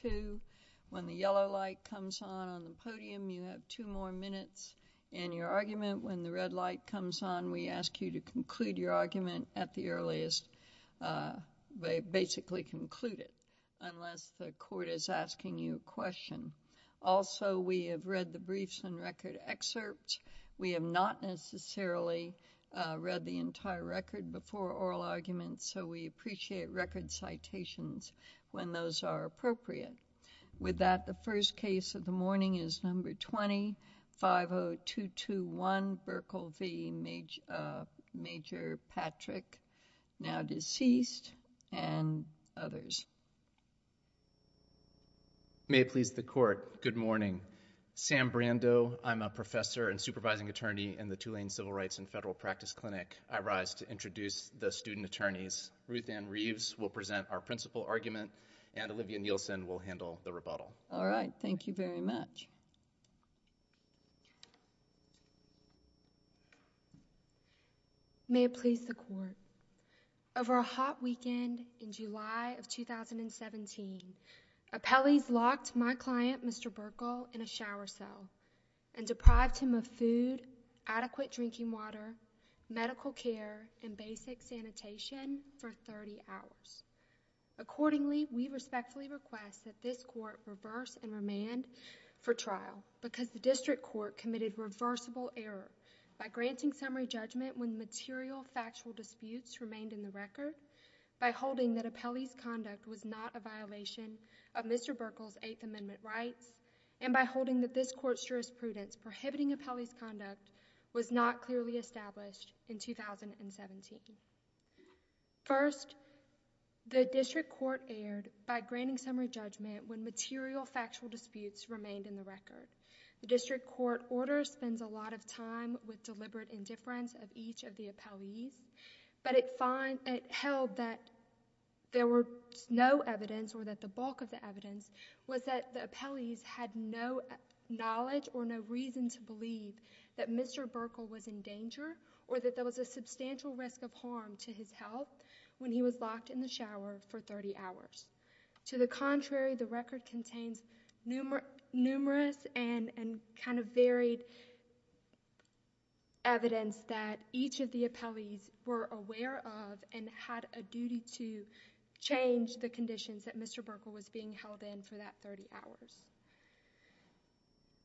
2. When the yellow light comes on on the podium, you have two more minutes in your argument. When the red light comes on, we ask you to conclude your argument at the earliest, basically conclude it, unless the court is asking you a question. Also, we have read the briefs and record excerpts. We have not necessarily read the entire record before oral arguments, so we appreciate record citations when those are appropriate. With that, the first case of the morning is number 20, 50221, Berkle v. Major Patrick, now deceased, and others. May it please the court, good morning. Sam Brando. I'm a professor and supervising attorney in the Tulane Civil Rights and Federal Practice Clinic. I rise to introduce the student attorneys Ruthann Reeves will present our principal argument, and Olivia Nielsen will handle the rebuttal. All right. Thank you very much. May it please the court. Over a hot weekend in July of 2017, appellees locked my client, Mr. Berkle, in a shower cell and deprived him of food, adequate drinking water, medical care, and basic sanitation for 30 hours. Accordingly, we respectfully request that this court reverse and remand for trial, because the district court committed reversible error by granting summary judgment when material factual disputes remained in the record, by holding that appellee's conduct was not a violation of Mr. Berkle's Eighth Amendment rights, and by holding that this court's jurisprudence prohibiting appellee's conduct was not clearly established in 2017. First, the district court erred by granting summary judgment when material factual disputes remained in the record. The district court order spends a lot of time with deliberate indifference of each of the appellees, but it held that there was no evidence or that the bulk of the evidence was that the appellees had no knowledge or no reason to believe that Mr. Berkle was in danger or that there was a substantial risk of harm to his health when he was locked in the shower for 30 hours. To the contrary, the record contains numerous and varied evidence that each of the appellees were aware of and had a duty to change the conditions that Mr. Berkle was being held in for that 30 hours.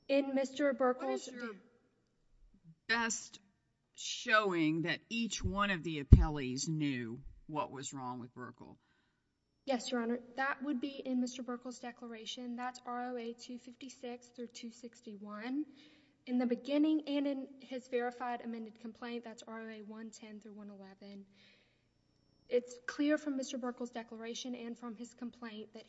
What is your best showing that each one of the appellees knew what was wrong with Berkle? Yes, Your Honor. That would be in Mr. Berkle's declaration. That's ROA 256-261. In the beginning and in his verified amended complaint, that's ROA 110-111. It's clear from Mr. Berkle's statement that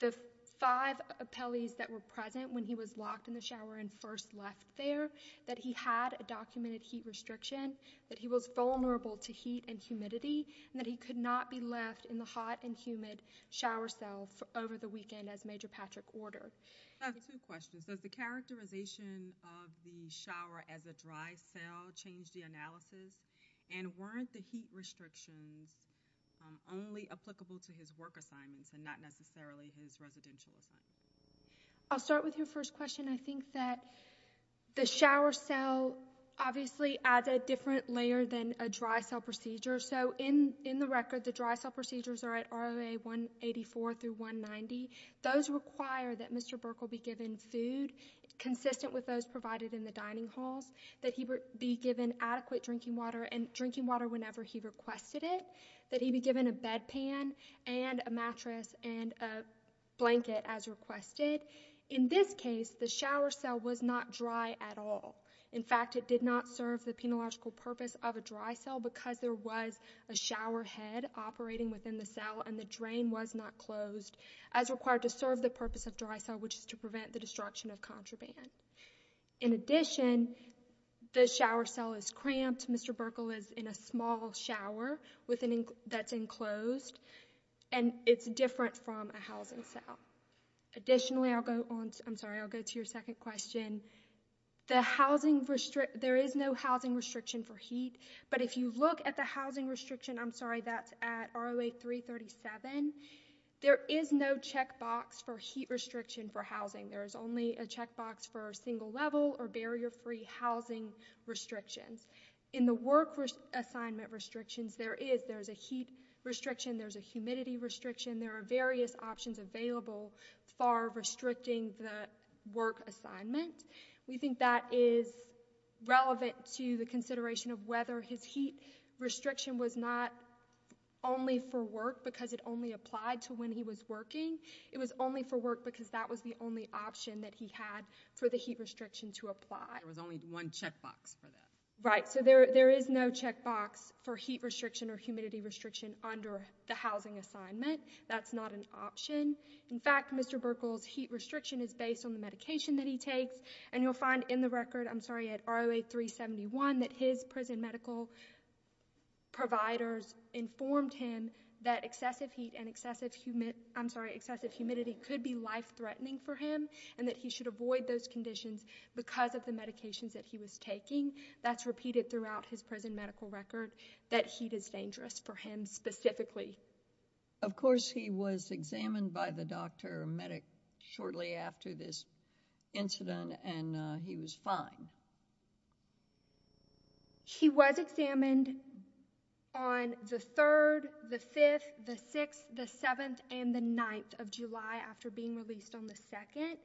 there were five appellees that were present when he was locked in the shower and first left there, that he had a documented heat restriction, that he was vulnerable to heat and humidity, and that he could not be left in the hot and humid shower cell over the weekend as Major Patrick ordered. I have two questions. Does the characterization of the shower as a dry cell change the analysis, and weren't the heat restrictions only applicable to his work assignments and not necessarily his residential assignments? I'll start with your first question. I think that the shower cell obviously adds a different layer than a dry cell procedure. In the record, the dry cell procedures are at ROA 184-190. Those require that Mr. Berkle be given food consistent with those provided in the dining halls, that he be given adequate drinking water, and drinking water whenever he requested it, that he be given a bedpan and a mattress and a blanket as requested. In this case, the shower cell was not dry at all. In fact, it did not serve the penological purpose of a dry cell because there was a shower head operating within the cell and the drain was not closed as required to serve the purpose of dry cell, which is to prevent the destruction of contraband. In addition, the shower cell is cramped. Mr. Berkle is in a small shower that's enclosed, and it's different from a housing cell. Additionally, I'll go to your second question. There is no housing restriction for heat, but if you look at the housing restriction, I'm sorry, that's at ROA 337, there is no checkbox for heat restriction for housing. There is only a checkbox for single level or barrier-free housing restrictions. In the work assignment restrictions, there is a heat restriction, there's a humidity restriction, there are various options available for restricting the work assignment. We think that is relevant to the consideration of whether his heat restriction was not only for work because it only applied to when he was working. It was only for work because that was the only option that he had for the heat restriction to apply. There was only one checkbox for that. Right. There is no checkbox for heat restriction or humidity restriction under the housing assignment. That's not an option. In fact, Mr. Berkle's heat restriction is based on the medication that he takes, and you'll find in the record, I'm sorry, at ROA 371, that his prison medical providers informed him that excessive heat and excessive humidity could be life-threatening for him, and that he should avoid those conditions because of the medications that he was taking. That's repeated throughout his prison medical record that heat is dangerous for him specifically. Of course, he was examined by the doctor or medic shortly after this incident, and he was fine. He was examined on the 3rd, the 5th, the 6th, the 7th, and the 9th of July, I believe. After being released on the 2nd.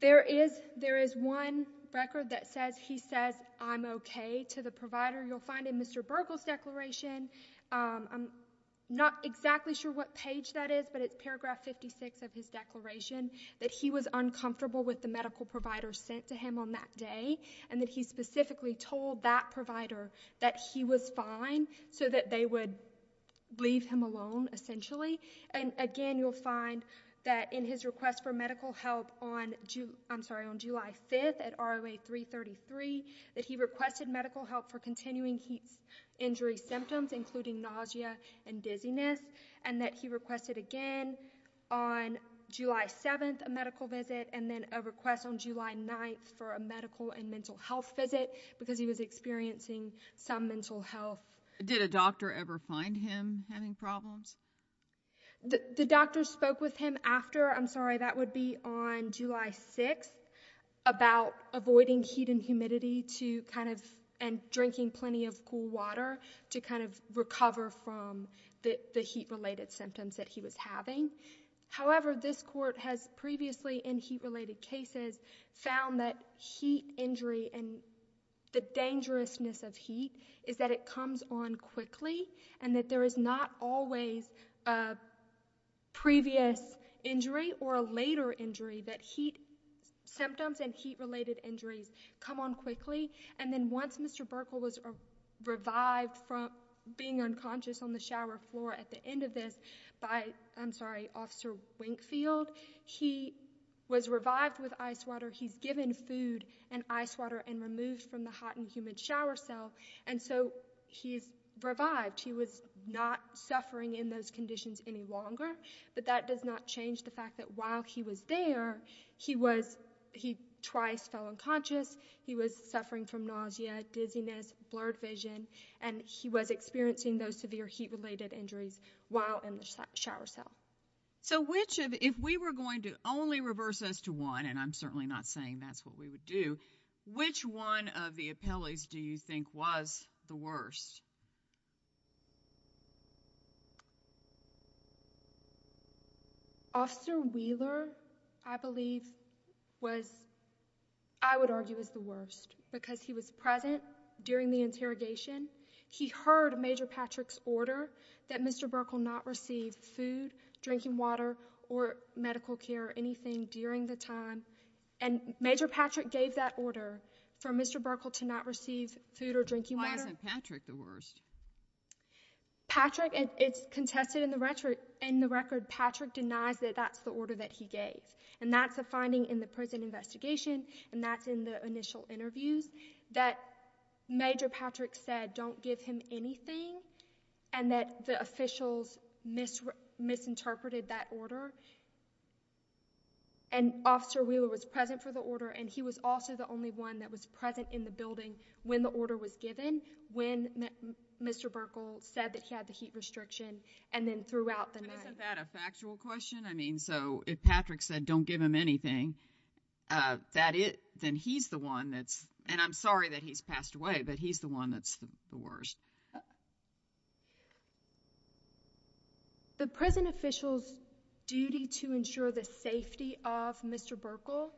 There is one record that says, he says, I'm okay, to the provider. You'll find in Mr. Berkle's declaration, I'm not exactly sure what page that is, but it's paragraph 56 of his declaration, that he was uncomfortable with the medical provider sent to him on that day, and that he specifically told that provider that he was fine, so that they would leave him alone, essentially, and again, you'll find that in his request for medical help on, I'm sorry, on July 5th at ROA 333, that he requested medical help for continuing heat injury symptoms, including nausea and dizziness, and that he requested again on July 7th, a medical visit, and then a request on July 9th for a medical and mental health visit because he was experiencing some mental health. Did a doctor ever find him having problems? The doctor spoke with him after, I'm sorry, that would be on July 6th, about avoiding heat and humidity to kind of, and drinking plenty of cool water to kind of recover from the heat-related symptoms that he was having. However, this court has previously in heat-related cases found that heat injury and the dangerousness of heat is that it comes on quickly, and that there is not always a previous injury or a later injury, that heat symptoms and heat-related injuries come on quickly, and then once Mr. Burkle was revived from being unconscious on the shower floor at the end of this by, I'm sorry, Officer Winkfield, he was revived with ice water. He's given food and ice water and removed from the hot and humid shower cell, and so he's revived. He was not suffering in those conditions any longer, but that does not change the fact that while he was there, he was, he twice fell unconscious. He was experiencing those severe heat-related injuries while in the shower cell. So which of, if we were going to only reverse this to one, and I'm certainly not saying that's what we would do, which one of the appellees do you think was the worst? Officer Wheeler, I believe, was, I would argue, was the worst because he was present during the interrogation. He heard Major Patrick's order that Mr. Burkle not receive food, drinking water, or medical care or anything during the time, and Major Patrick gave that order for Mr. Burkle to not receive food or drinking water. Why isn't Patrick the worst? Patrick, it's contested in the record, Patrick denies that that's the order that he gave, and that's a finding in the prison investigation, and that's in the initial interviews, that Major Patrick said, don't give him anything, and that the officials misinterpreted that order, and Officer Wheeler was present for the order, and he was also the only one that was present in the building when the order was given, when Mr. Burkle said that he had the heat restriction, and then throughout the night. Isn't that a factual question? I mean, so if Patrick said, don't give him anything, then he's the one that's, and I'm sorry that he's passed away, but he's the one that's the worst. The prison officials' duty to ensure the safety of Mr. Burkle,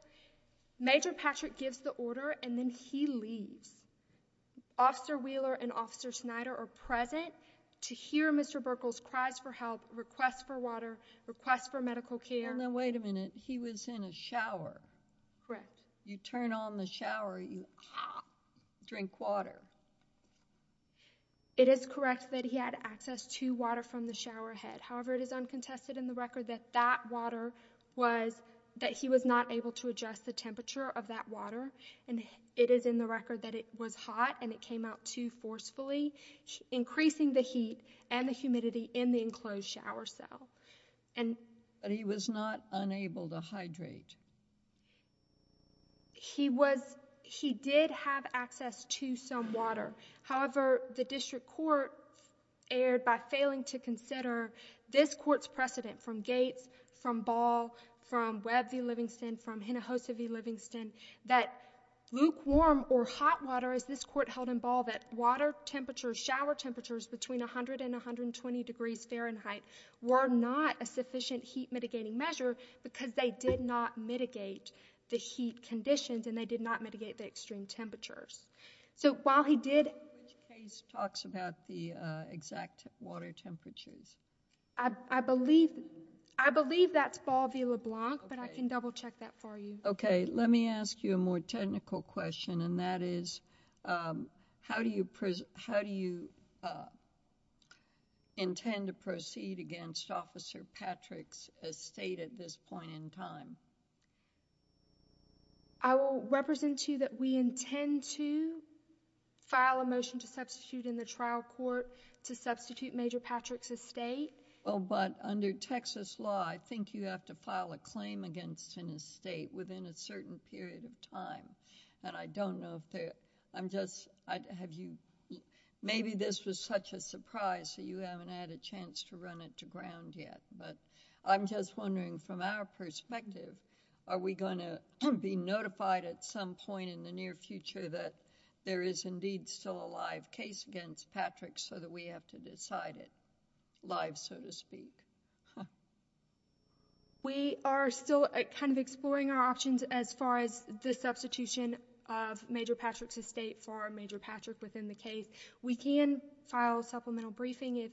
Major Patrick gives the order, and then he leaves. Officer Wheeler and Officer Snyder are present to hear Mr. Burkle's cries for help, requests for water, requests for medical care. Now, wait a minute. He was in a shower. Correct. You turn on the shower, you drink water. It is correct that he had access to water from the showerhead. However, it is uncontested in the record that that water was, that he was not able to adjust the temperature of that water, and it is in the record that it was hot, and it came out too forcefully, increasing the heat and the humidity in the enclosed shower cell. But he was not unable to hydrate. He was, he did have access to some water. However, the district court erred by failing to consider this court's precedent from Gates, from Ball, from Webb v. Livingston, from Hinojosa v. Livingston, that lukewarm or hot water, as this court held in Ball, that water temperature, shower temperatures between 100 and 120 degrees Fahrenheit were not a sufficient heat mitigating measure because they did not mitigate the heat conditions, and they did not mitigate the extreme temperatures. So while he did... Which case talks about the exact water temperatures? I believe, I believe that's Ball v. LeBlanc, but I can double check that for you. Okay, let me ask you a more technical question, and that is, how do you, how do you intend to proceed against Officer Patrick's estate at this point in time? I will represent to you that we intend to file a motion to substitute in the trial court to substitute Major Patrick's estate. Well, but under Texas law, I think you have to file a claim against an estate within a certain period of time, and I don't know if there, I'm just, have you, maybe this was such a surprise that you haven't had a chance to run it to ground yet, but I'm just wondering from our perspective, are we going to be notified at some point in the near future that there is indeed still a live case against Patrick's so that we have to decide it live, so to speak? We are still kind of exploring our options as far as the substitution of Major Patrick's estate for Major Patrick within the case. We can file a supplemental briefing if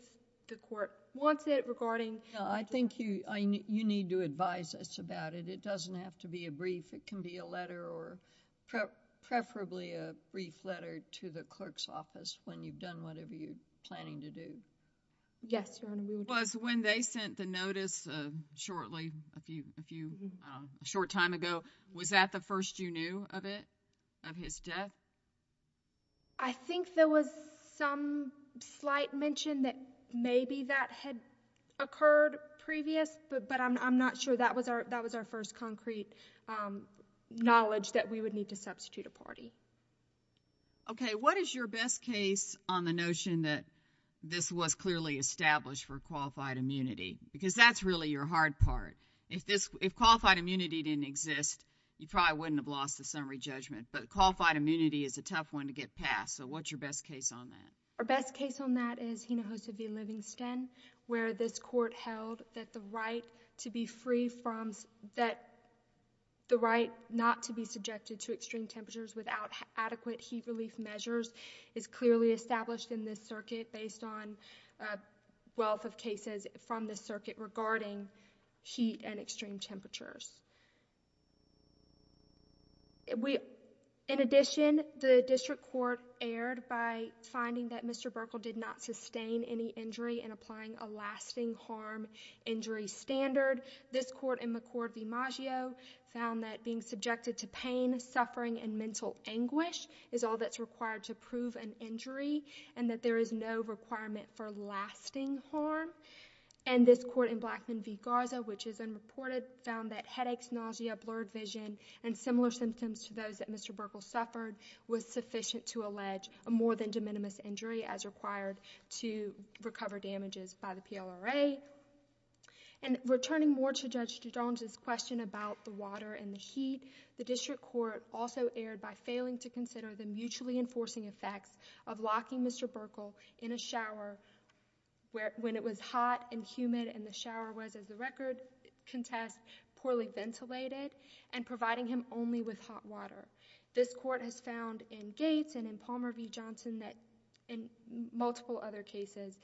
the court wants it regarding... I think you need to advise us about it. It doesn't have to be a brief. It can be a letter or preferably a brief letter to the clerk's office when you've done whatever you're planning to do. Yes, Your Honor. When they sent the notice shortly, a short time ago, was that the first you knew of it, of his death? I think there was some slight mention that maybe that had occurred previous, but I'm that we would need to substitute a party. Okay, what is your best case on the notion that this was clearly established for qualified immunity? Because that's really your hard part. If qualified immunity didn't exist, you probably wouldn't have lost the summary judgment, but qualified immunity is a tough one to get past, so what's your best case on that? Our best case on that is Hinojosa v. Livingston, where this court held that the right to be subjected to extreme temperatures without adequate heat relief measures is clearly established in this circuit based on a wealth of cases from this circuit regarding heat and extreme temperatures. In addition, the district court erred by finding that Mr. Burkle did not sustain any injury and applying a lasting harm injury standard. This court in McCord v. Maggio found that being subjected to pain, suffering, and mental anguish is all that's required to prove an injury, and that there is no requirement for lasting harm. And this court in Blackman v. Garza, which is unreported, found that headaches, nausea, blurred vision, and similar symptoms to those that Mr. Burkle suffered was sufficient to allege a more than de minimis injury as required to recover damages by the PLRA. Returning more to Judge Doudon's question about the water and the heat, the district court also erred by failing to consider the mutually enforcing effects of locking Mr. Burkle in a shower when it was hot and humid and the shower was, as the record contests, poorly ventilated and providing him only with hot water. This court has found in Gates and Palmer v. Johnson and multiple other cases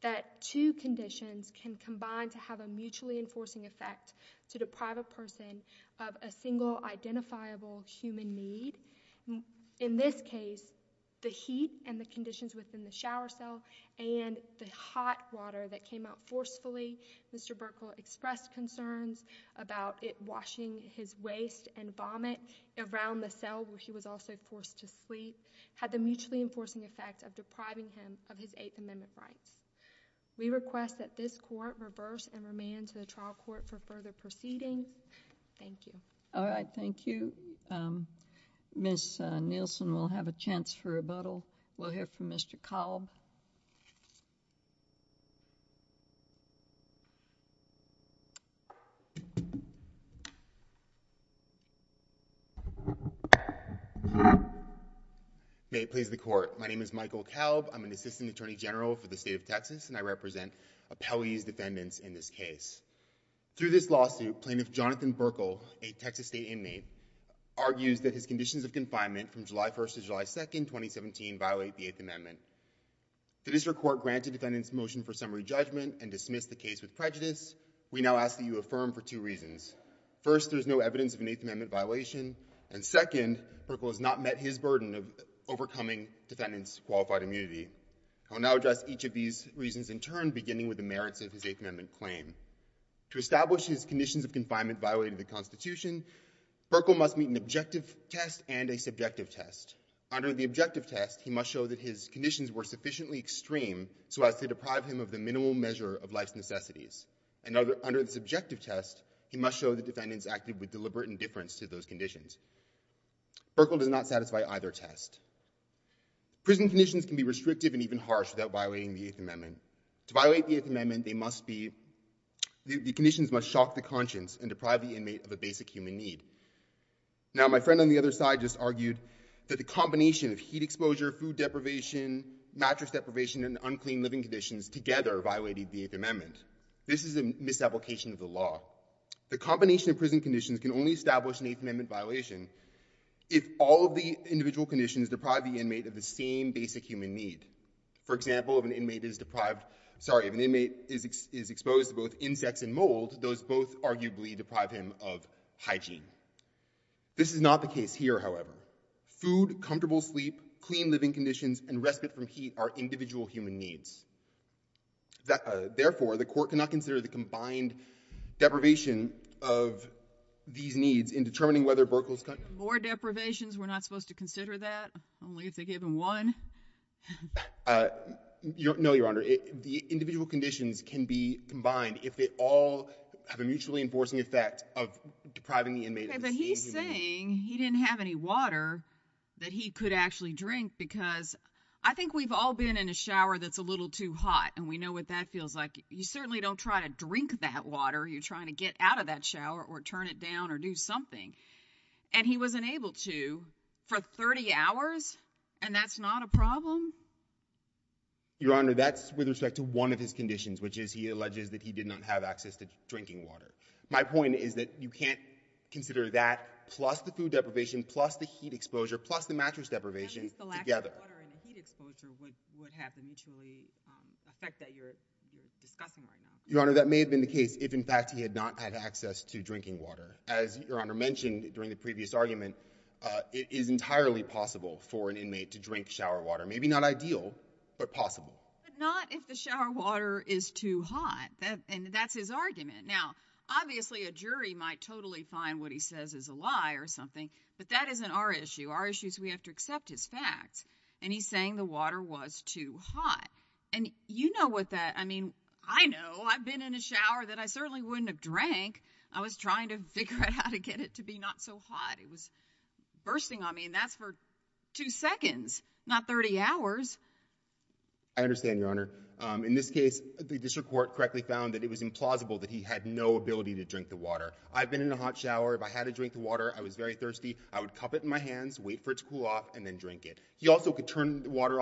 that two conditions can combine to have a mutually enforcing effect to deprive a person of a single identifiable human need. In this case, the heat and the conditions within the shower cell and the hot water that came out forcefully, Mr. Burkle expressed concerns about it washing his waist and vomit around the cell where he was also forced to sleep, had the mutually enforcing effect of depriving him of his Eighth Amendment rights. We request that this court reverse and remand to the trial court for further proceedings. Thank you. All right. Thank you. Ms. Nielsen will have a chance for rebuttal. We'll hear from Mr. Kalb. May it please the Court. My name is Michael Kalb. I'm an Assistant Attorney General for the State of Texas, and I represent appellee's defendants in this case. Through this lawsuit, Plaintiff Jonathan Burkle, a Texas State inmate, argues that his conditions of confinement from July 1st to July 2nd, 2017 violate the Eighth Amendment. The district court granted defendants motion for summary judgment and dismissed the case with prejudice. We now ask that you affirm for two reasons. First, there's no evidence of an Eighth Amendment violation, and second, Burkle has not met his burden of overcoming defendants' qualified immunity. I will now address each of these reasons in turn, beginning with the merits of his Eighth Amendment claim. To establish his conditions of confinement violated the Constitution, Burkle must meet an objective test and a subjective test. Under the objective test, he must show that his conditions were sufficiently extreme so as to deprive him of the minimal measure of life's necessities. And under the subjective test, he must show that defendants acted with deliberate indifference to those conditions. Burkle does not satisfy either test. Prison conditions can be restrictive and even harsh without violating the Eighth Amendment. The conditions must shock the conscience and deprive the inmate of a basic human need. Now, my friend on the other side just argued that the combination of heat exposure, food deprivation, mattress deprivation, and unclean living conditions together violated the Eighth Amendment. This is a misapplication of the law. The combination of prison conditions can only establish an Eighth Amendment violation if all of the individual conditions deprive the inmate of the same basic human need. For example, if an inmate is deprived, sorry, if an inmate is exposed to both insects and mold, those both arguably deprive him of hygiene. This is not the case here, however. Food, comfortable sleep, clean living conditions, and respite from heat are individual human needs. Therefore, the Court cannot consider the combined deprivation of these needs in determining whether Burkle's condition More deprivations? We're not supposed to consider that? Only if they give him one? No, Your Honor. The individual conditions can be combined if they all have a mutually enforcing effect of depriving the inmate of the same human need. But he's saying he didn't have any water that he could actually drink because I think we've all been in a shower that's a little too hot, and we know what that feels like. You certainly don't try to drink that water. You're trying to get out of that shower or turn it down or do something, and he wasn't able to for 30 hours, and that's not a problem? Your Honor, that's with respect to one of his conditions, which is he alleges that he did not have access to drinking water. My point is that you can't consider that plus the food deprivation, plus the heat exposure, plus the mattress deprivation together. At least the lack of water and the heat exposure would have a mutually effect that you're discussing right now. Your Honor, that may have been the case if, in fact, he had not had access to drinking water. As Your Honor mentioned during the previous argument, it is entirely possible for an inmate to drink shower water. Maybe not ideal, but possible. But not if the shower water is too hot, and that's his argument. Now, obviously a jury might totally find what he says is a lie or something, but that isn't our issue. Our issue is we have to accept his facts, and he's saying the water was too hot. And you know what that—I mean, I know. I've been in a shower that I certainly wouldn't have drank. I was trying to figure out how to get it to be not so hot. It was bursting on me, and that's for two seconds, not 30 hours. I understand, Your Honor. In this case, the district court correctly found that it was implausible that he had no ability to drink the water. I've been in a hot shower. If I had to drink the water, I was very thirsty. I would cup it in my hands, wait for it to cool off, and then drink it. He also could turn the water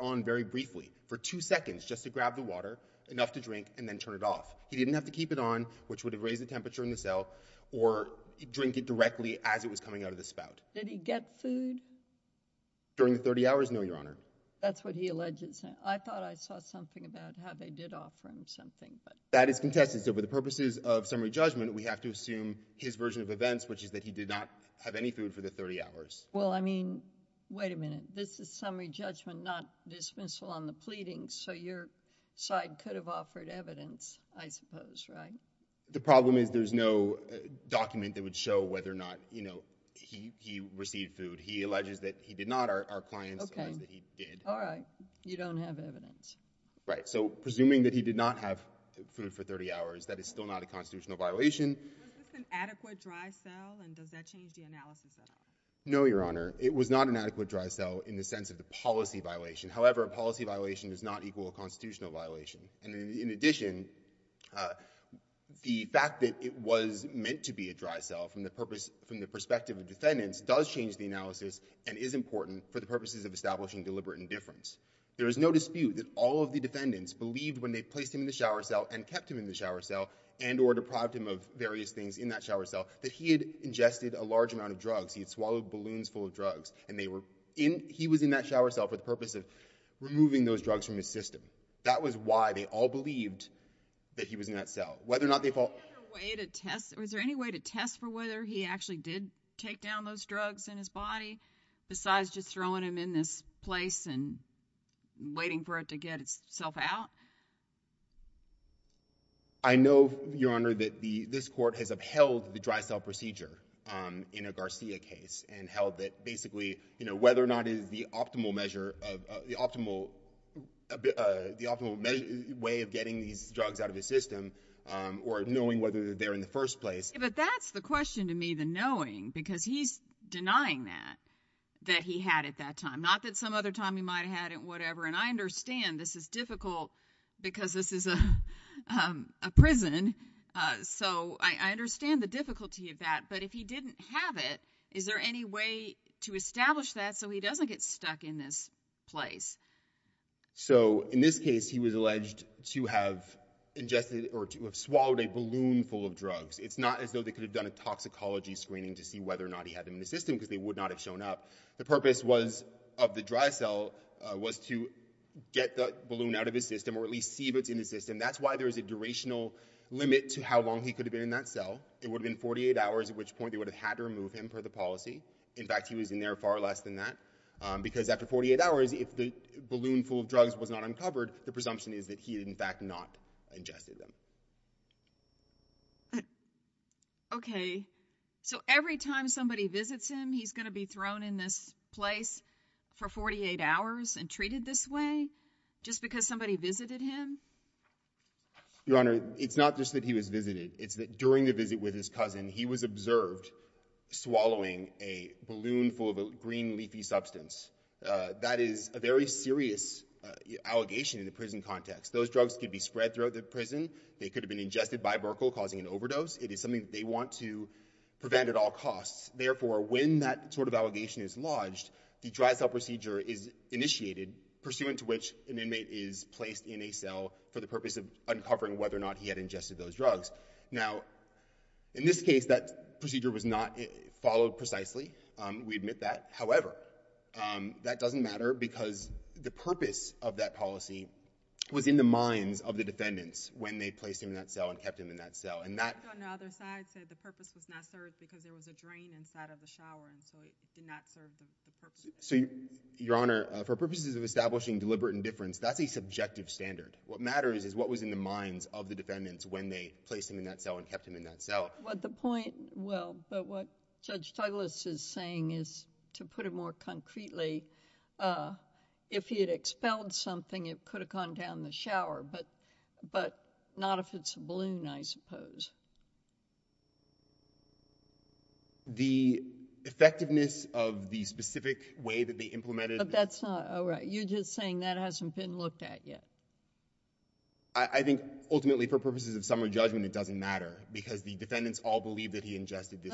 on very briefly, for two seconds, just to grab the water, enough to drink, and then turn it off. He didn't have to keep it on, which would have raised the temperature in the cell, or drink it directly as it was coming out of the spout. Did he get food? During the 30 hours? No, Your Honor. That's what he alleges. I thought I saw something about how they did offer him something. That is contested. So for the purposes of summary judgment, we have to assume his version of events, which is that he did not have any food for the 30 hours. Well, I mean, wait a minute. This is summary judgment, not dismissal on the pleading. So your side could have offered evidence, I suppose, right? The problem is there's no document that would show whether or not he received food. He alleges that he did not. Our clients allege that he did. All right. You don't have evidence. Right. So presuming that he did not have food for 30 hours, that is still not a constitutional violation. Was this an adequate dry cell, and does that change the analysis at all? No, Your Honor. It was not an adequate dry cell in the sense of the policy violation. However, a policy violation does not equal a constitutional violation. And in addition, the fact that it was meant to be a dry cell from the perspective of defendants does change the analysis and is important for the purposes of establishing deliberate indifference. There is no dispute that all of the defendants believed when they placed him in the shower cell and kept him in the shower cell and or deprived him of various things in that shower cell that he had ingested a large amount of drugs. He had swallowed balloons full of drugs. And he was in that shower cell for the purpose of removing those drugs from his system. That was why they all believed that he was in that cell. Was there any way to test for whether he actually did take down those drugs in his body besides just throwing them in this place and waiting for it to get itself out? I know, Your Honor, that this court has upheld the dry cell procedure in a Garcia case and held that basically whether or not it is the optimal measure of— the optimal way of getting these drugs out of his system or knowing whether they're there in the first place. But that's the question to me, the knowing, because he's denying that, that he had at that time. Not that some other time he might have had it, whatever. And I understand this is difficult because this is a prison, so I understand the difficulty of that. But if he didn't have it, is there any way to establish that so he doesn't get stuck in this place? So in this case, he was alleged to have ingested or to have swallowed a balloon full of drugs. It's not as though they could have done a toxicology screening to see whether or not he had them in the system because they would not have shown up. The purpose of the dry cell was to get the balloon out of his system or at least see if it's in the system. That's why there's a durational limit to how long he could have been in that cell. It would have been 48 hours, at which point they would have had to remove him for the policy. In fact, he was in there far less than that because after 48 hours, if the balloon full of drugs was not uncovered, the presumption is that he had, in fact, not ingested them. Okay, so every time somebody visits him, he's going to be thrown in this place for 48 hours and treated this way just because somebody visited him? Your Honor, it's not just that he was visited. It's that during the visit with his cousin, he was observed swallowing a balloon full of a green leafy substance. That is a very serious allegation in the prison context. Those drugs could be spread throughout the prison. They could have been ingested by Burkle, causing an overdose. It is something that they want to prevent at all costs. Therefore, when that sort of allegation is lodged, the dry cell procedure is initiated, pursuant to which an inmate is placed in a cell for the purpose of uncovering whether or not he had ingested those drugs. Now, in this case, that procedure was not followed precisely. We admit that. However, that doesn't matter because the purpose of that policy was in the minds of the defendants when they placed him in that cell and kept him in that cell. On the other side, it said the purpose was not served because there was a drain inside of the shower, and so it did not serve the purpose. Your Honor, for purposes of establishing deliberate indifference, that's a subjective standard. What matters is what was in the minds of the defendants when they placed him in that cell and kept him in that cell. The point, well, but what Judge Douglas is saying is, to put it more concretely, if he had expelled something, it could have gone down the shower, but not if it's a balloon, I suppose. The effectiveness of the specific way that they implemented it... But that's not... Oh, right, you're just saying that hasn't been looked at yet. I think, ultimately, for purposes of summary judgment, it doesn't matter because the defendants all believe that he ingested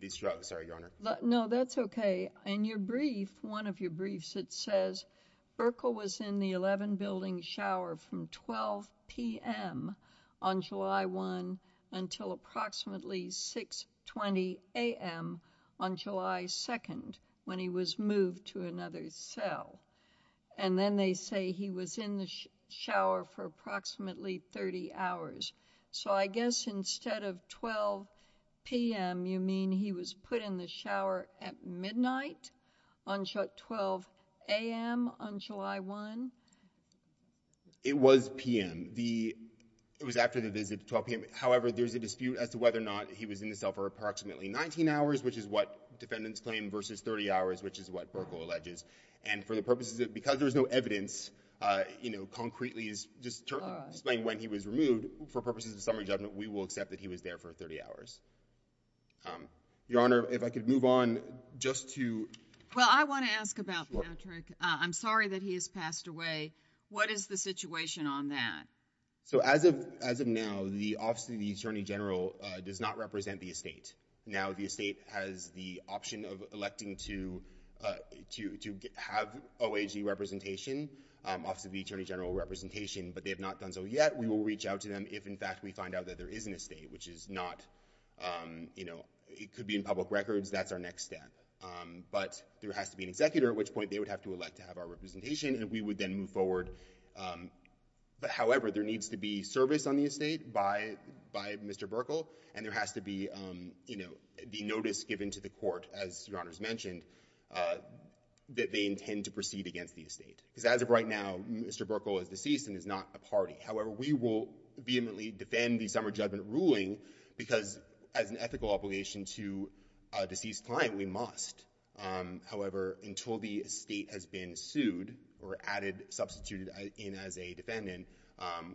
these drugs. Sorry, Your Honor. No, that's okay. In your brief, one of your briefs, it says, Berkel was in the 11-building shower from 12pm on July 1 until approximately 6.20am on July 2, when he was moved to another cell. And then they say he was in the shower for approximately 30 hours. So I guess instead of 12pm, you mean he was put in the shower at midnight on 12am on July 1? It was pm. It was after the visit, 12pm. However, there's a dispute as to whether or not he was in the cell for approximately 19 hours, which is what defendants claim, versus 30 hours, which is what Berkel alleges. And for the purposes of... Because there's no evidence, you know, concretely, just to explain when he was removed, for purposes of summary judgment, we will accept that he was there for 30 hours. Your Honor, if I could move on just to... Well, I want to ask about Patrick. I'm sorry that he has passed away. What is the situation on that? So as of now, the Office of the Attorney General does not represent the estate. Now the estate has the option of electing to have OAG representation, Office of the Attorney General representation, but they have not done so yet. We will reach out to them if, in fact, we find out that there is an estate, which is not, you know... It could be in public records. That's our next step. But there has to be an executor, at which point they would have to elect to have our representation, and we would then move forward. However, there needs to be service on the estate by Mr. Berkel, and there has to be, you know, the notice given to the court, as Your Honor's mentioned, that they intend to proceed against the estate. Because as of right now, Mr. Berkel is deceased and is not a party. However, we will vehemently defend the summer judgment ruling because as an ethical obligation to a deceased client, we must. However, until the estate has been sued or added, substituted in as a defendant,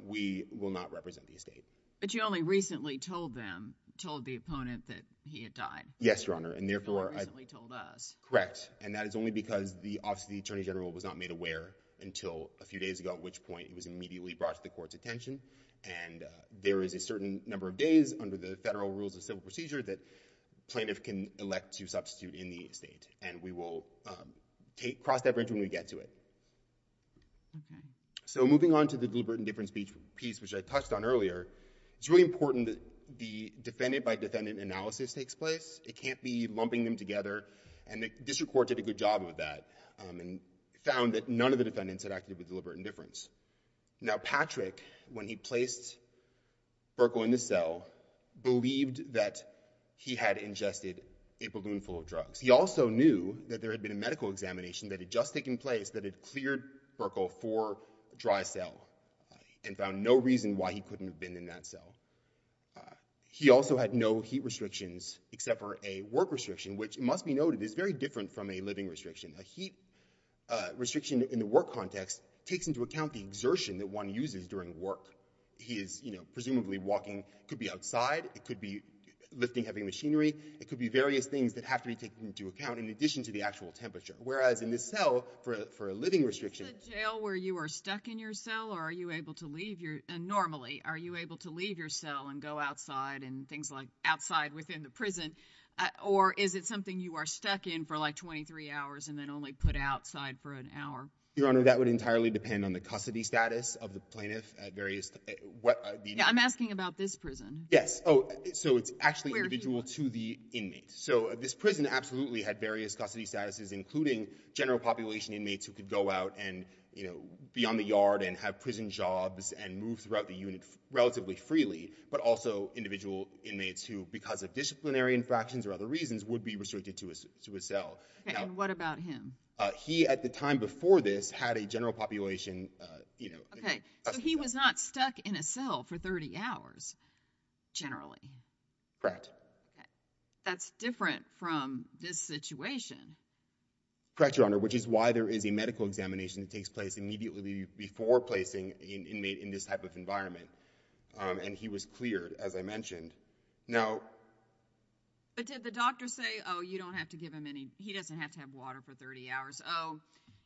we will not represent the estate. But you only recently told them, told the opponent, that he had died. Yes, Your Honor, and therefore... You only recently told us. Correct. And that is only because the Office of the Attorney General was not made aware until a few days ago, at which point it was immediately brought to the court's attention. And there is a certain number of days under the federal rules of civil procedure that plaintiff can elect to substitute in the estate, and we will cross that bridge when we get to it. Okay. So moving on to the deliberate indifference piece, which I touched on earlier, it's really important that the defendant-by-defendant analysis takes place. It can't be lumping them together, and the district court did a good job of that and found that none of the defendants had acted with deliberate indifference. Now, Patrick, when he placed Burkle in the cell, believed that he had ingested a balloon full of drugs. He also knew that there had been a medical examination that had just taken place that had cleared Burkle for dry cell and found no reason why he couldn't have been in that cell. He also had no heat restrictions except for a work restriction, which, it must be noted, is very different from a living restriction. A heat restriction in the work context takes into account the exertion that one uses during work. He is, you know, presumably walking. It could be outside. It could be lifting heavy machinery. It could be various things that have to be taken into account in addition to the actual temperature, whereas in this cell, for a living restriction... Is this a jail where you are stuck in your cell, or are you able to leave normally? Are you able to leave your cell and go outside and things like outside within the prison, or is it something you are stuck in for, like, 23 hours and then only put outside for an hour? Your Honor, that would entirely depend on the custody status of the plaintiff at various... Yeah, I'm asking about this prison. Yes. Oh, so it's actually individual to the inmate. So this prison absolutely had various custody statuses, including general population inmates who could go out and, you know, be on the yard and have prison jobs and move throughout the unit relatively freely, but also individual inmates who, because of disciplinary infractions or other reasons, would be restricted to a cell. And what about him? He, at the time before this, had a general population... OK, so he was not stuck in a cell for 30 hours, generally. Correct. That's different from this situation. Correct, Your Honor, which is why there is a medical examination that takes place immediately before placing an inmate in this type of environment, and he was cleared, as I mentioned. Now... But did the doctor say, oh, you don't have to give him any... He doesn't have to have water for 30 hours. Oh,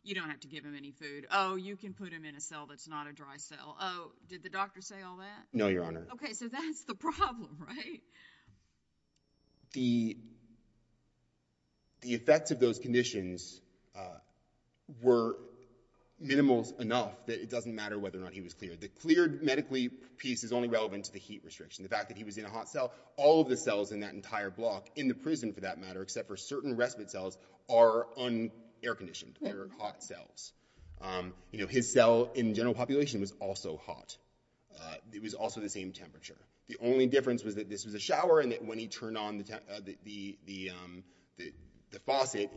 you don't have to give him any food. Oh, you can put him in a cell that's not a dry cell. Oh, did the doctor say all that? No, Your Honor. OK, so that's the problem, right? The... The effects of those conditions were minimal enough that it doesn't matter whether or not he was cleared. The cleared medically piece is only relevant to the heat restriction. The fact that he was in a hot cell... All of the cells in that entire block in the prison, for that matter, except for certain respite cells, are air-conditioned. They're hot cells. You know, his cell in general population was also hot. It was also the same temperature. The only difference was that this was a shower and that when he turned on the faucet,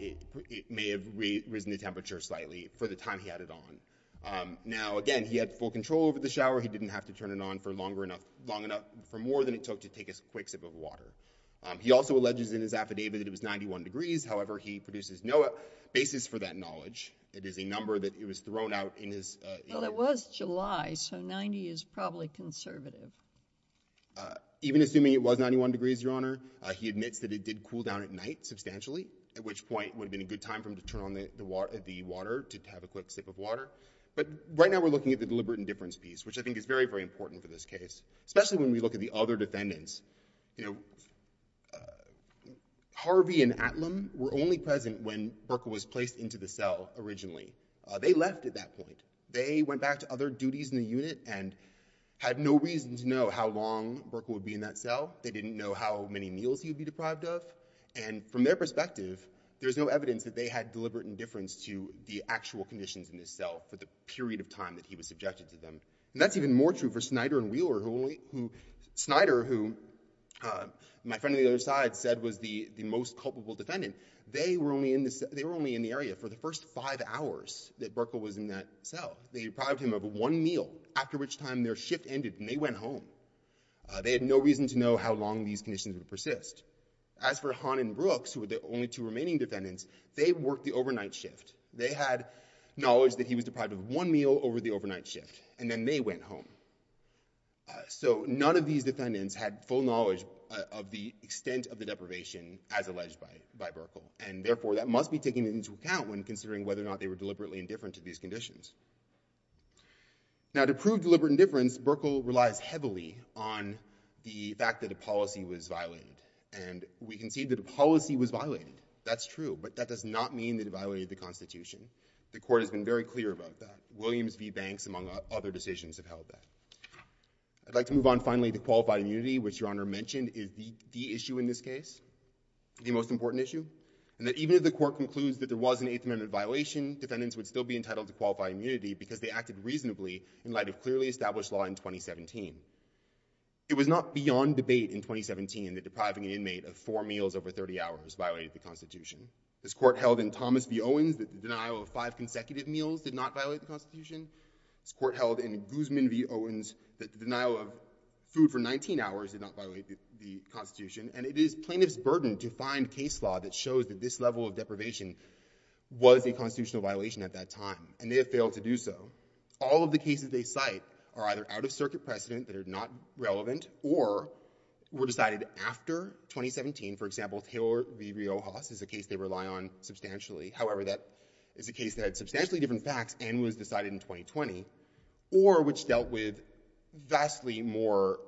it may have risen the temperature slightly for the time he had it on. Now, again, he had full control over the shower. He didn't have to turn it on for long enough... for more than it took to take a quick sip of water. He also alleges in his affidavit that it was 91 degrees. However, he produces no basis for that knowledge. It is a number that was thrown out in his... Well, it was July, so 90 is probably conservative. Even assuming it was 91 degrees, Your Honor, he admits that it did cool down at night substantially, at which point it would have been a good time for him to turn on the water, to have a quick sip of water. But right now we're looking at the deliberate indifference piece, which I think is very, very important for this case, especially when we look at the other defendants. You know, Harvey and Atlam were only present when Burkle was placed into the cell originally. They left at that point. They went back to other duties in the unit and had no reason to know how long Burkle would be in that cell. They didn't know how many meals he would be deprived of. And from their perspective, there's no evidence that they had deliberate indifference to the actual conditions in this cell for the period of time that he was subjected to them. And that's even more true for Snyder and Wheeler, who Snyder, who my friend on the other side said, was the most culpable defendant. They were only in the area for the first five hours that Burkle was in that cell. They deprived him of one meal, after which time their shift ended and they went home. They had no reason to know how long these conditions would persist. As for Hahn and Brooks, who were the only two remaining defendants, they worked the overnight shift. They had knowledge that he was deprived of one meal over the overnight shift. And then they went home. So none of these defendants had full knowledge of the extent of the deprivation as alleged by Burkle. And therefore, that must be taken into account when considering whether or not they were deliberately indifferent to these conditions. Now, to prove deliberate indifference, Burkle relies heavily on the fact that a policy was violated. And we can see that a policy was violated. That's true, but that does not mean that it violated the Constitution. The Court has been very clear about that. Williams v. Banks, among other decisions, have held that. I'd like to move on finally to qualified immunity, which Your Honor mentioned is the issue in this case, the most important issue, and that even if the Court concludes that there was an Eighth Amendment violation, defendants would still be entitled to qualified immunity because they acted reasonably in light of clearly established law in 2017. It was not beyond debate in 2017 that depriving an inmate of four meals over 30 hours violated the Constitution. This Court held in Thomas v. Owens that the denial of five consecutive meals did not violate the Constitution. This Court held in Guzman v. Owens that the denial of food for 19 hours did not violate the Constitution. And it is plaintiff's burden to find case law that shows that this level of deprivation was a constitutional violation at that time, and they have failed to do so. All of the cases they cite are either out-of-circuit precedent that are not relevant or were decided after 2017. For example, Taylor v. Riojas is a case they rely on substantially. However, that is a case that had substantially different facts and was decided in 2020, or which dealt with vastly more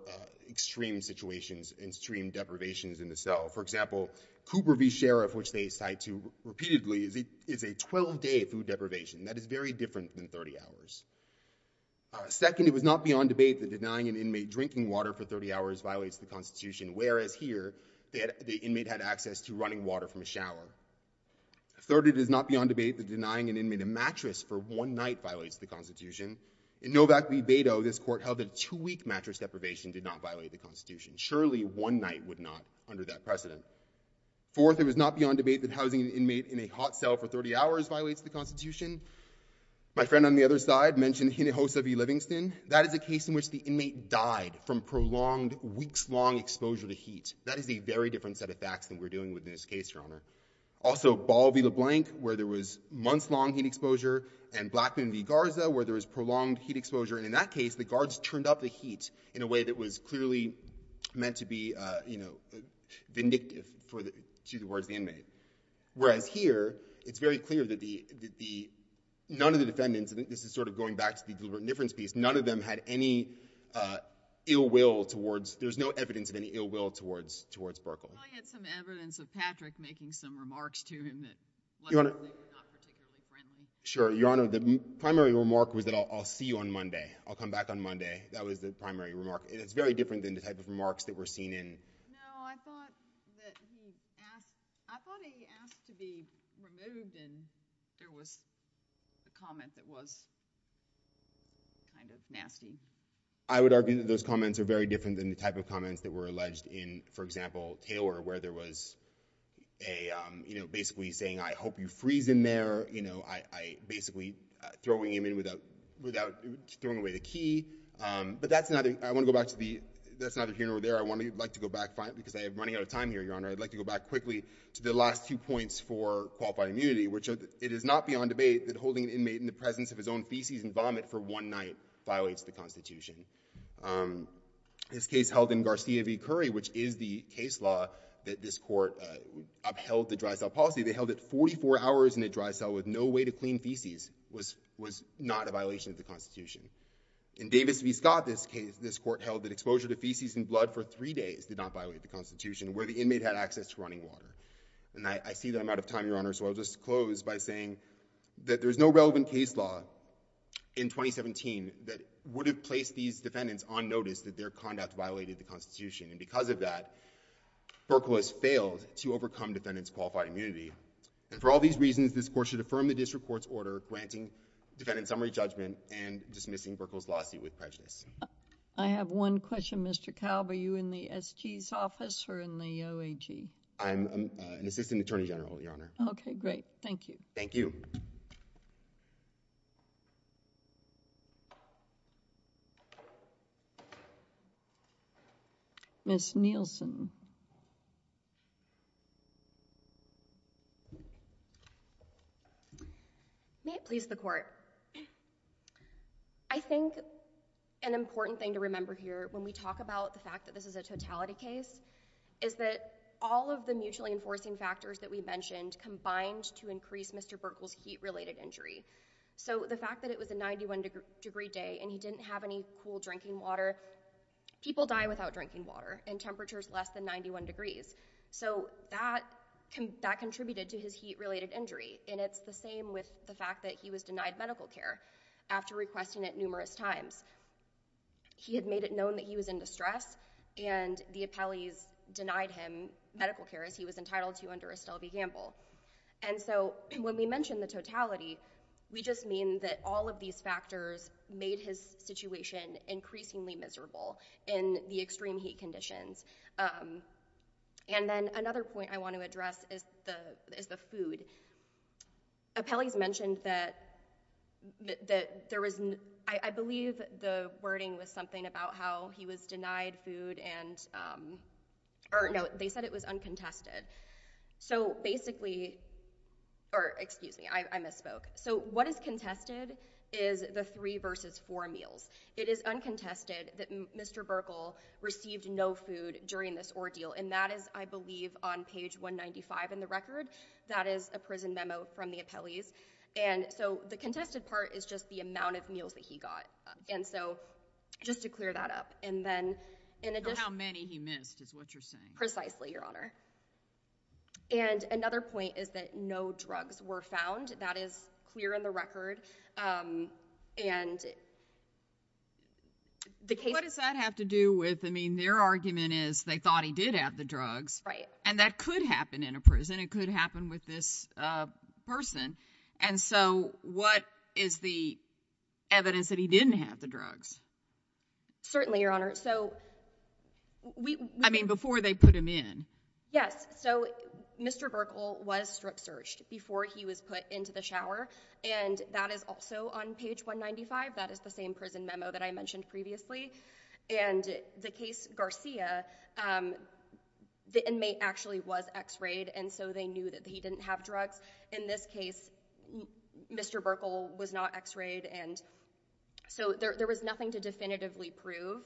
extreme situations and extreme deprivations in the cell. For example, Cooper v. Sheriff, which they cite repeatedly, is a 12-day food deprivation. That is very different than 30 hours. Second, it was not beyond debate that denying an inmate drinking water for 30 hours violates the Constitution, whereas here the inmate had access to running water from a shower. Third, it is not beyond debate that denying an inmate a mattress for one night violates the Constitution. In Novak v. Beto, this Court held that two-week mattress deprivation did not violate the Constitution. Surely one night would not under that precedent. Fourth, it was not beyond debate that housing an inmate in a hot cell for 30 hours violates the Constitution. My friend on the other side mentioned Hinojosa v. Livingston. That is a case in which the inmate died from prolonged, weeks-long exposure to heat. That is a very different set of facts than we're dealing with in this case, Your Honor. Also, Ball v. LeBlanc, where there was months-long heat exposure, and Blackman v. Garza, where there was prolonged heat exposure. And in that case, the guards turned up the heat in a way that was clearly meant to be vindictive to the words of the inmate. Whereas here, it's very clear that none of the defendants, and this is sort of going back to the deliberate indifference piece, none of them had any ill will towards, there's no evidence of any ill will towards Burkle. Well, he had some evidence of Patrick making some remarks to him that, luckily, were not particularly friendly. Sure, Your Honor. The primary remark was that I'll see you on Monday. I'll come back on Monday. That was the primary remark. It's very different than the type of remarks that were seen in... No, I thought that he asked, I thought he asked to be removed and there was a comment that was kind of nasty. I would argue that those comments are very different than the type of comments that were alleged in, for example, Taylor, where there was a, you know, basically saying, I hope you freeze in there. You know, I basically throwing him in without, throwing away the key. But that's not, I want to go back to the, that's neither here nor there. I want to, I'd like to go back, because I am running out of time here, Your Honor. I'd like to go back quickly to the last two points for qualifying immunity, which it is not beyond debate that holding an inmate in the presence of his own feces and vomit for one night violates the Constitution. This case held in Garcia v. Curry, which is the case law that this court upheld the dry cell policy, they held it 44 hours in a dry cell with no way to clean feces, was not a violation of the Constitution. In Davis v. Scott, this case, this court held that exposure to feces and blood for three days did not violate the Constitution, where the inmate had access to running water. And I see that I'm out of time, Your Honor, so I'll just close by saying that there's no relevant case law in 2017 that would have placed these defendants on notice that their conduct violated the Constitution. And because of that, FERCLA has failed to overcome defendants' qualified immunity. And for all these reasons, this court should affirm the district court's order granting defendant summary judgment and dismissing FERCLA's lawsuit with prejudice. I have one question, Mr. Kalb. Are you in the SG's office or in the OAG? I'm an assistant attorney general, Your Honor. Okay, great. Thank you. Thank you. Ms. Nielsen. May it please the court. I think an important thing to remember here when we talk about the fact that this is a totality case is that all of the mutually enforcing factors that we mentioned combined to increase Mr. Burkle's heat-related injury. So the fact that it was a 91-degree day and he didn't have any cool drinking water, people die without drinking water and temperatures less than 90 degrees. So that contributed to his heat-related injury. And it's the same with the fact that he was denied medical care after requesting it numerous times. He had made it known that he was in distress and the appellees denied him medical care as he was entitled to under Estelle v. Gamble. And so when we mention the totality, we just mean that all of these factors made his situation increasingly miserable in the extreme heat conditions. And then another point I want to address is the food. Appellees mentioned that there was, I believe the wording was something about how he was denied food and, or no, they said it was uncontested. So basically, or excuse me, I misspoke. So what is contested is the three versus four meals. It is uncontested that Mr. Burkle received no food during this ordeal and that is, I believe, on page 195 in the record. That is a prison memo from the appellees. And so the contested part is just the amount of meals that he got. And so just to clear that up. And then in addition- Or how many he missed is what you're saying. Precisely, Your Honor. And another point is that no drugs were found. That is clear in the record. And the case- What does that have to do with, I mean, their argument is they thought he did have the drugs. Right. And that could happen in a prison. It could happen with this person. And so what is the evidence that he didn't have the drugs? Certainly, Your Honor. So we- I mean, before they put him in. Yes. So Mr. Burkle was strip searched before he was put into the shower. And that is also on page 195. That is the same prison memo that I mentioned previously. And the case Garcia, the inmate actually was X-rayed. And so they knew that he didn't have drugs. In this case, Mr. Burkle was not X-rayed. And so there was nothing to definitively prove,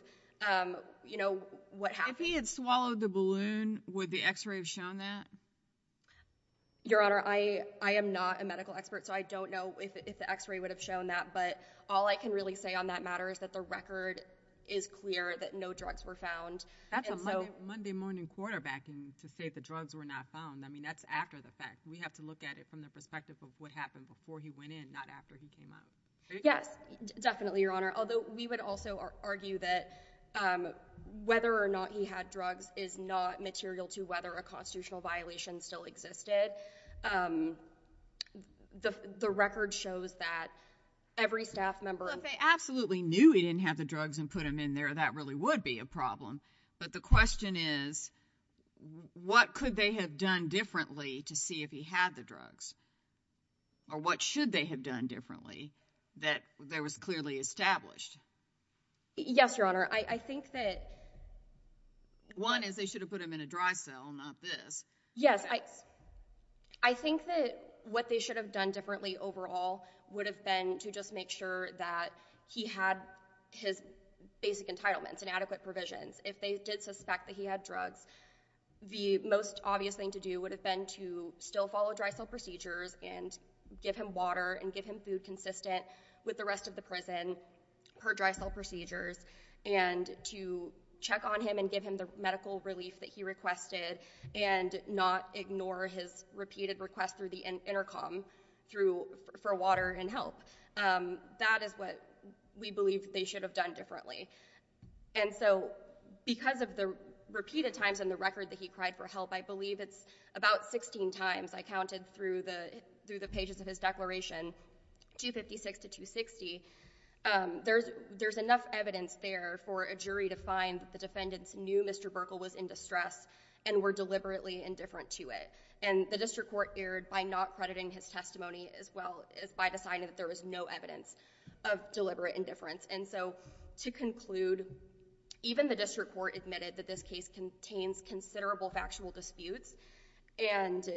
you know, what happened. If he had swallowed the balloon, would the X-ray have shown that? Your Honor, I am not a medical expert. So I don't know if the X-ray would have shown that. But all I can really say on that matter is that the record is clear that no drugs were found. That's a Monday morning quarterbacking to say the drugs were not found. I mean, that's after the fact. We have to look at it from the perspective of what happened before he went in, not after he came out. Yes. Definitely, Your Honor. Although we would also argue that whether or not he had drugs is not material to whether a constitutional violation still existed. The record shows that every staff member... But they absolutely knew he didn't have the drugs and put them in there. That really would be a problem. But the question is, what could they have done differently to see if he had the drugs? Or what should they have done differently that there was clearly established? Yes, Your Honor. I think that... One is they should have put him in a dry cell, not this. Yes, I think that what they should have done differently overall would have been to just make sure that he had his basic entitlements and adequate provisions. If they did suspect that he had drugs, the most obvious thing to do would have been to still follow dry cell procedures and give him water and give him food consistent with the rest of the prison per dry cell procedures and to check on him and give him the medical relief that he requested and not ignore his repeated request through the intercom for water and help. That is what we believe they should have done differently. And so because of the repeated times in the record that he cried for help, I believe it's about 16 times I counted through the pages of his declaration, 256 to 260, there's enough evidence there for a jury to find that the defendants knew Mr. Burkle was in distress and were deliberately indifferent to it. And the district court erred by not crediting his testimony as well as by deciding that there was no evidence of deliberate indifference. And so to conclude, even the district court admitted that this case contains considerable factual disputes and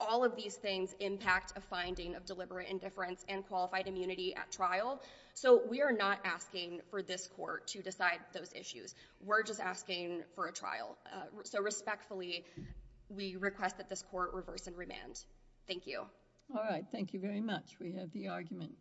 all of these things impact a finding of deliberate indifference and qualified immunity at trial. So we are not asking for this court to decide those issues. We're just asking for a trial. So respectfully, we request that this court reverse in remand. Thank you. All right. Thank you very much. We have the argument.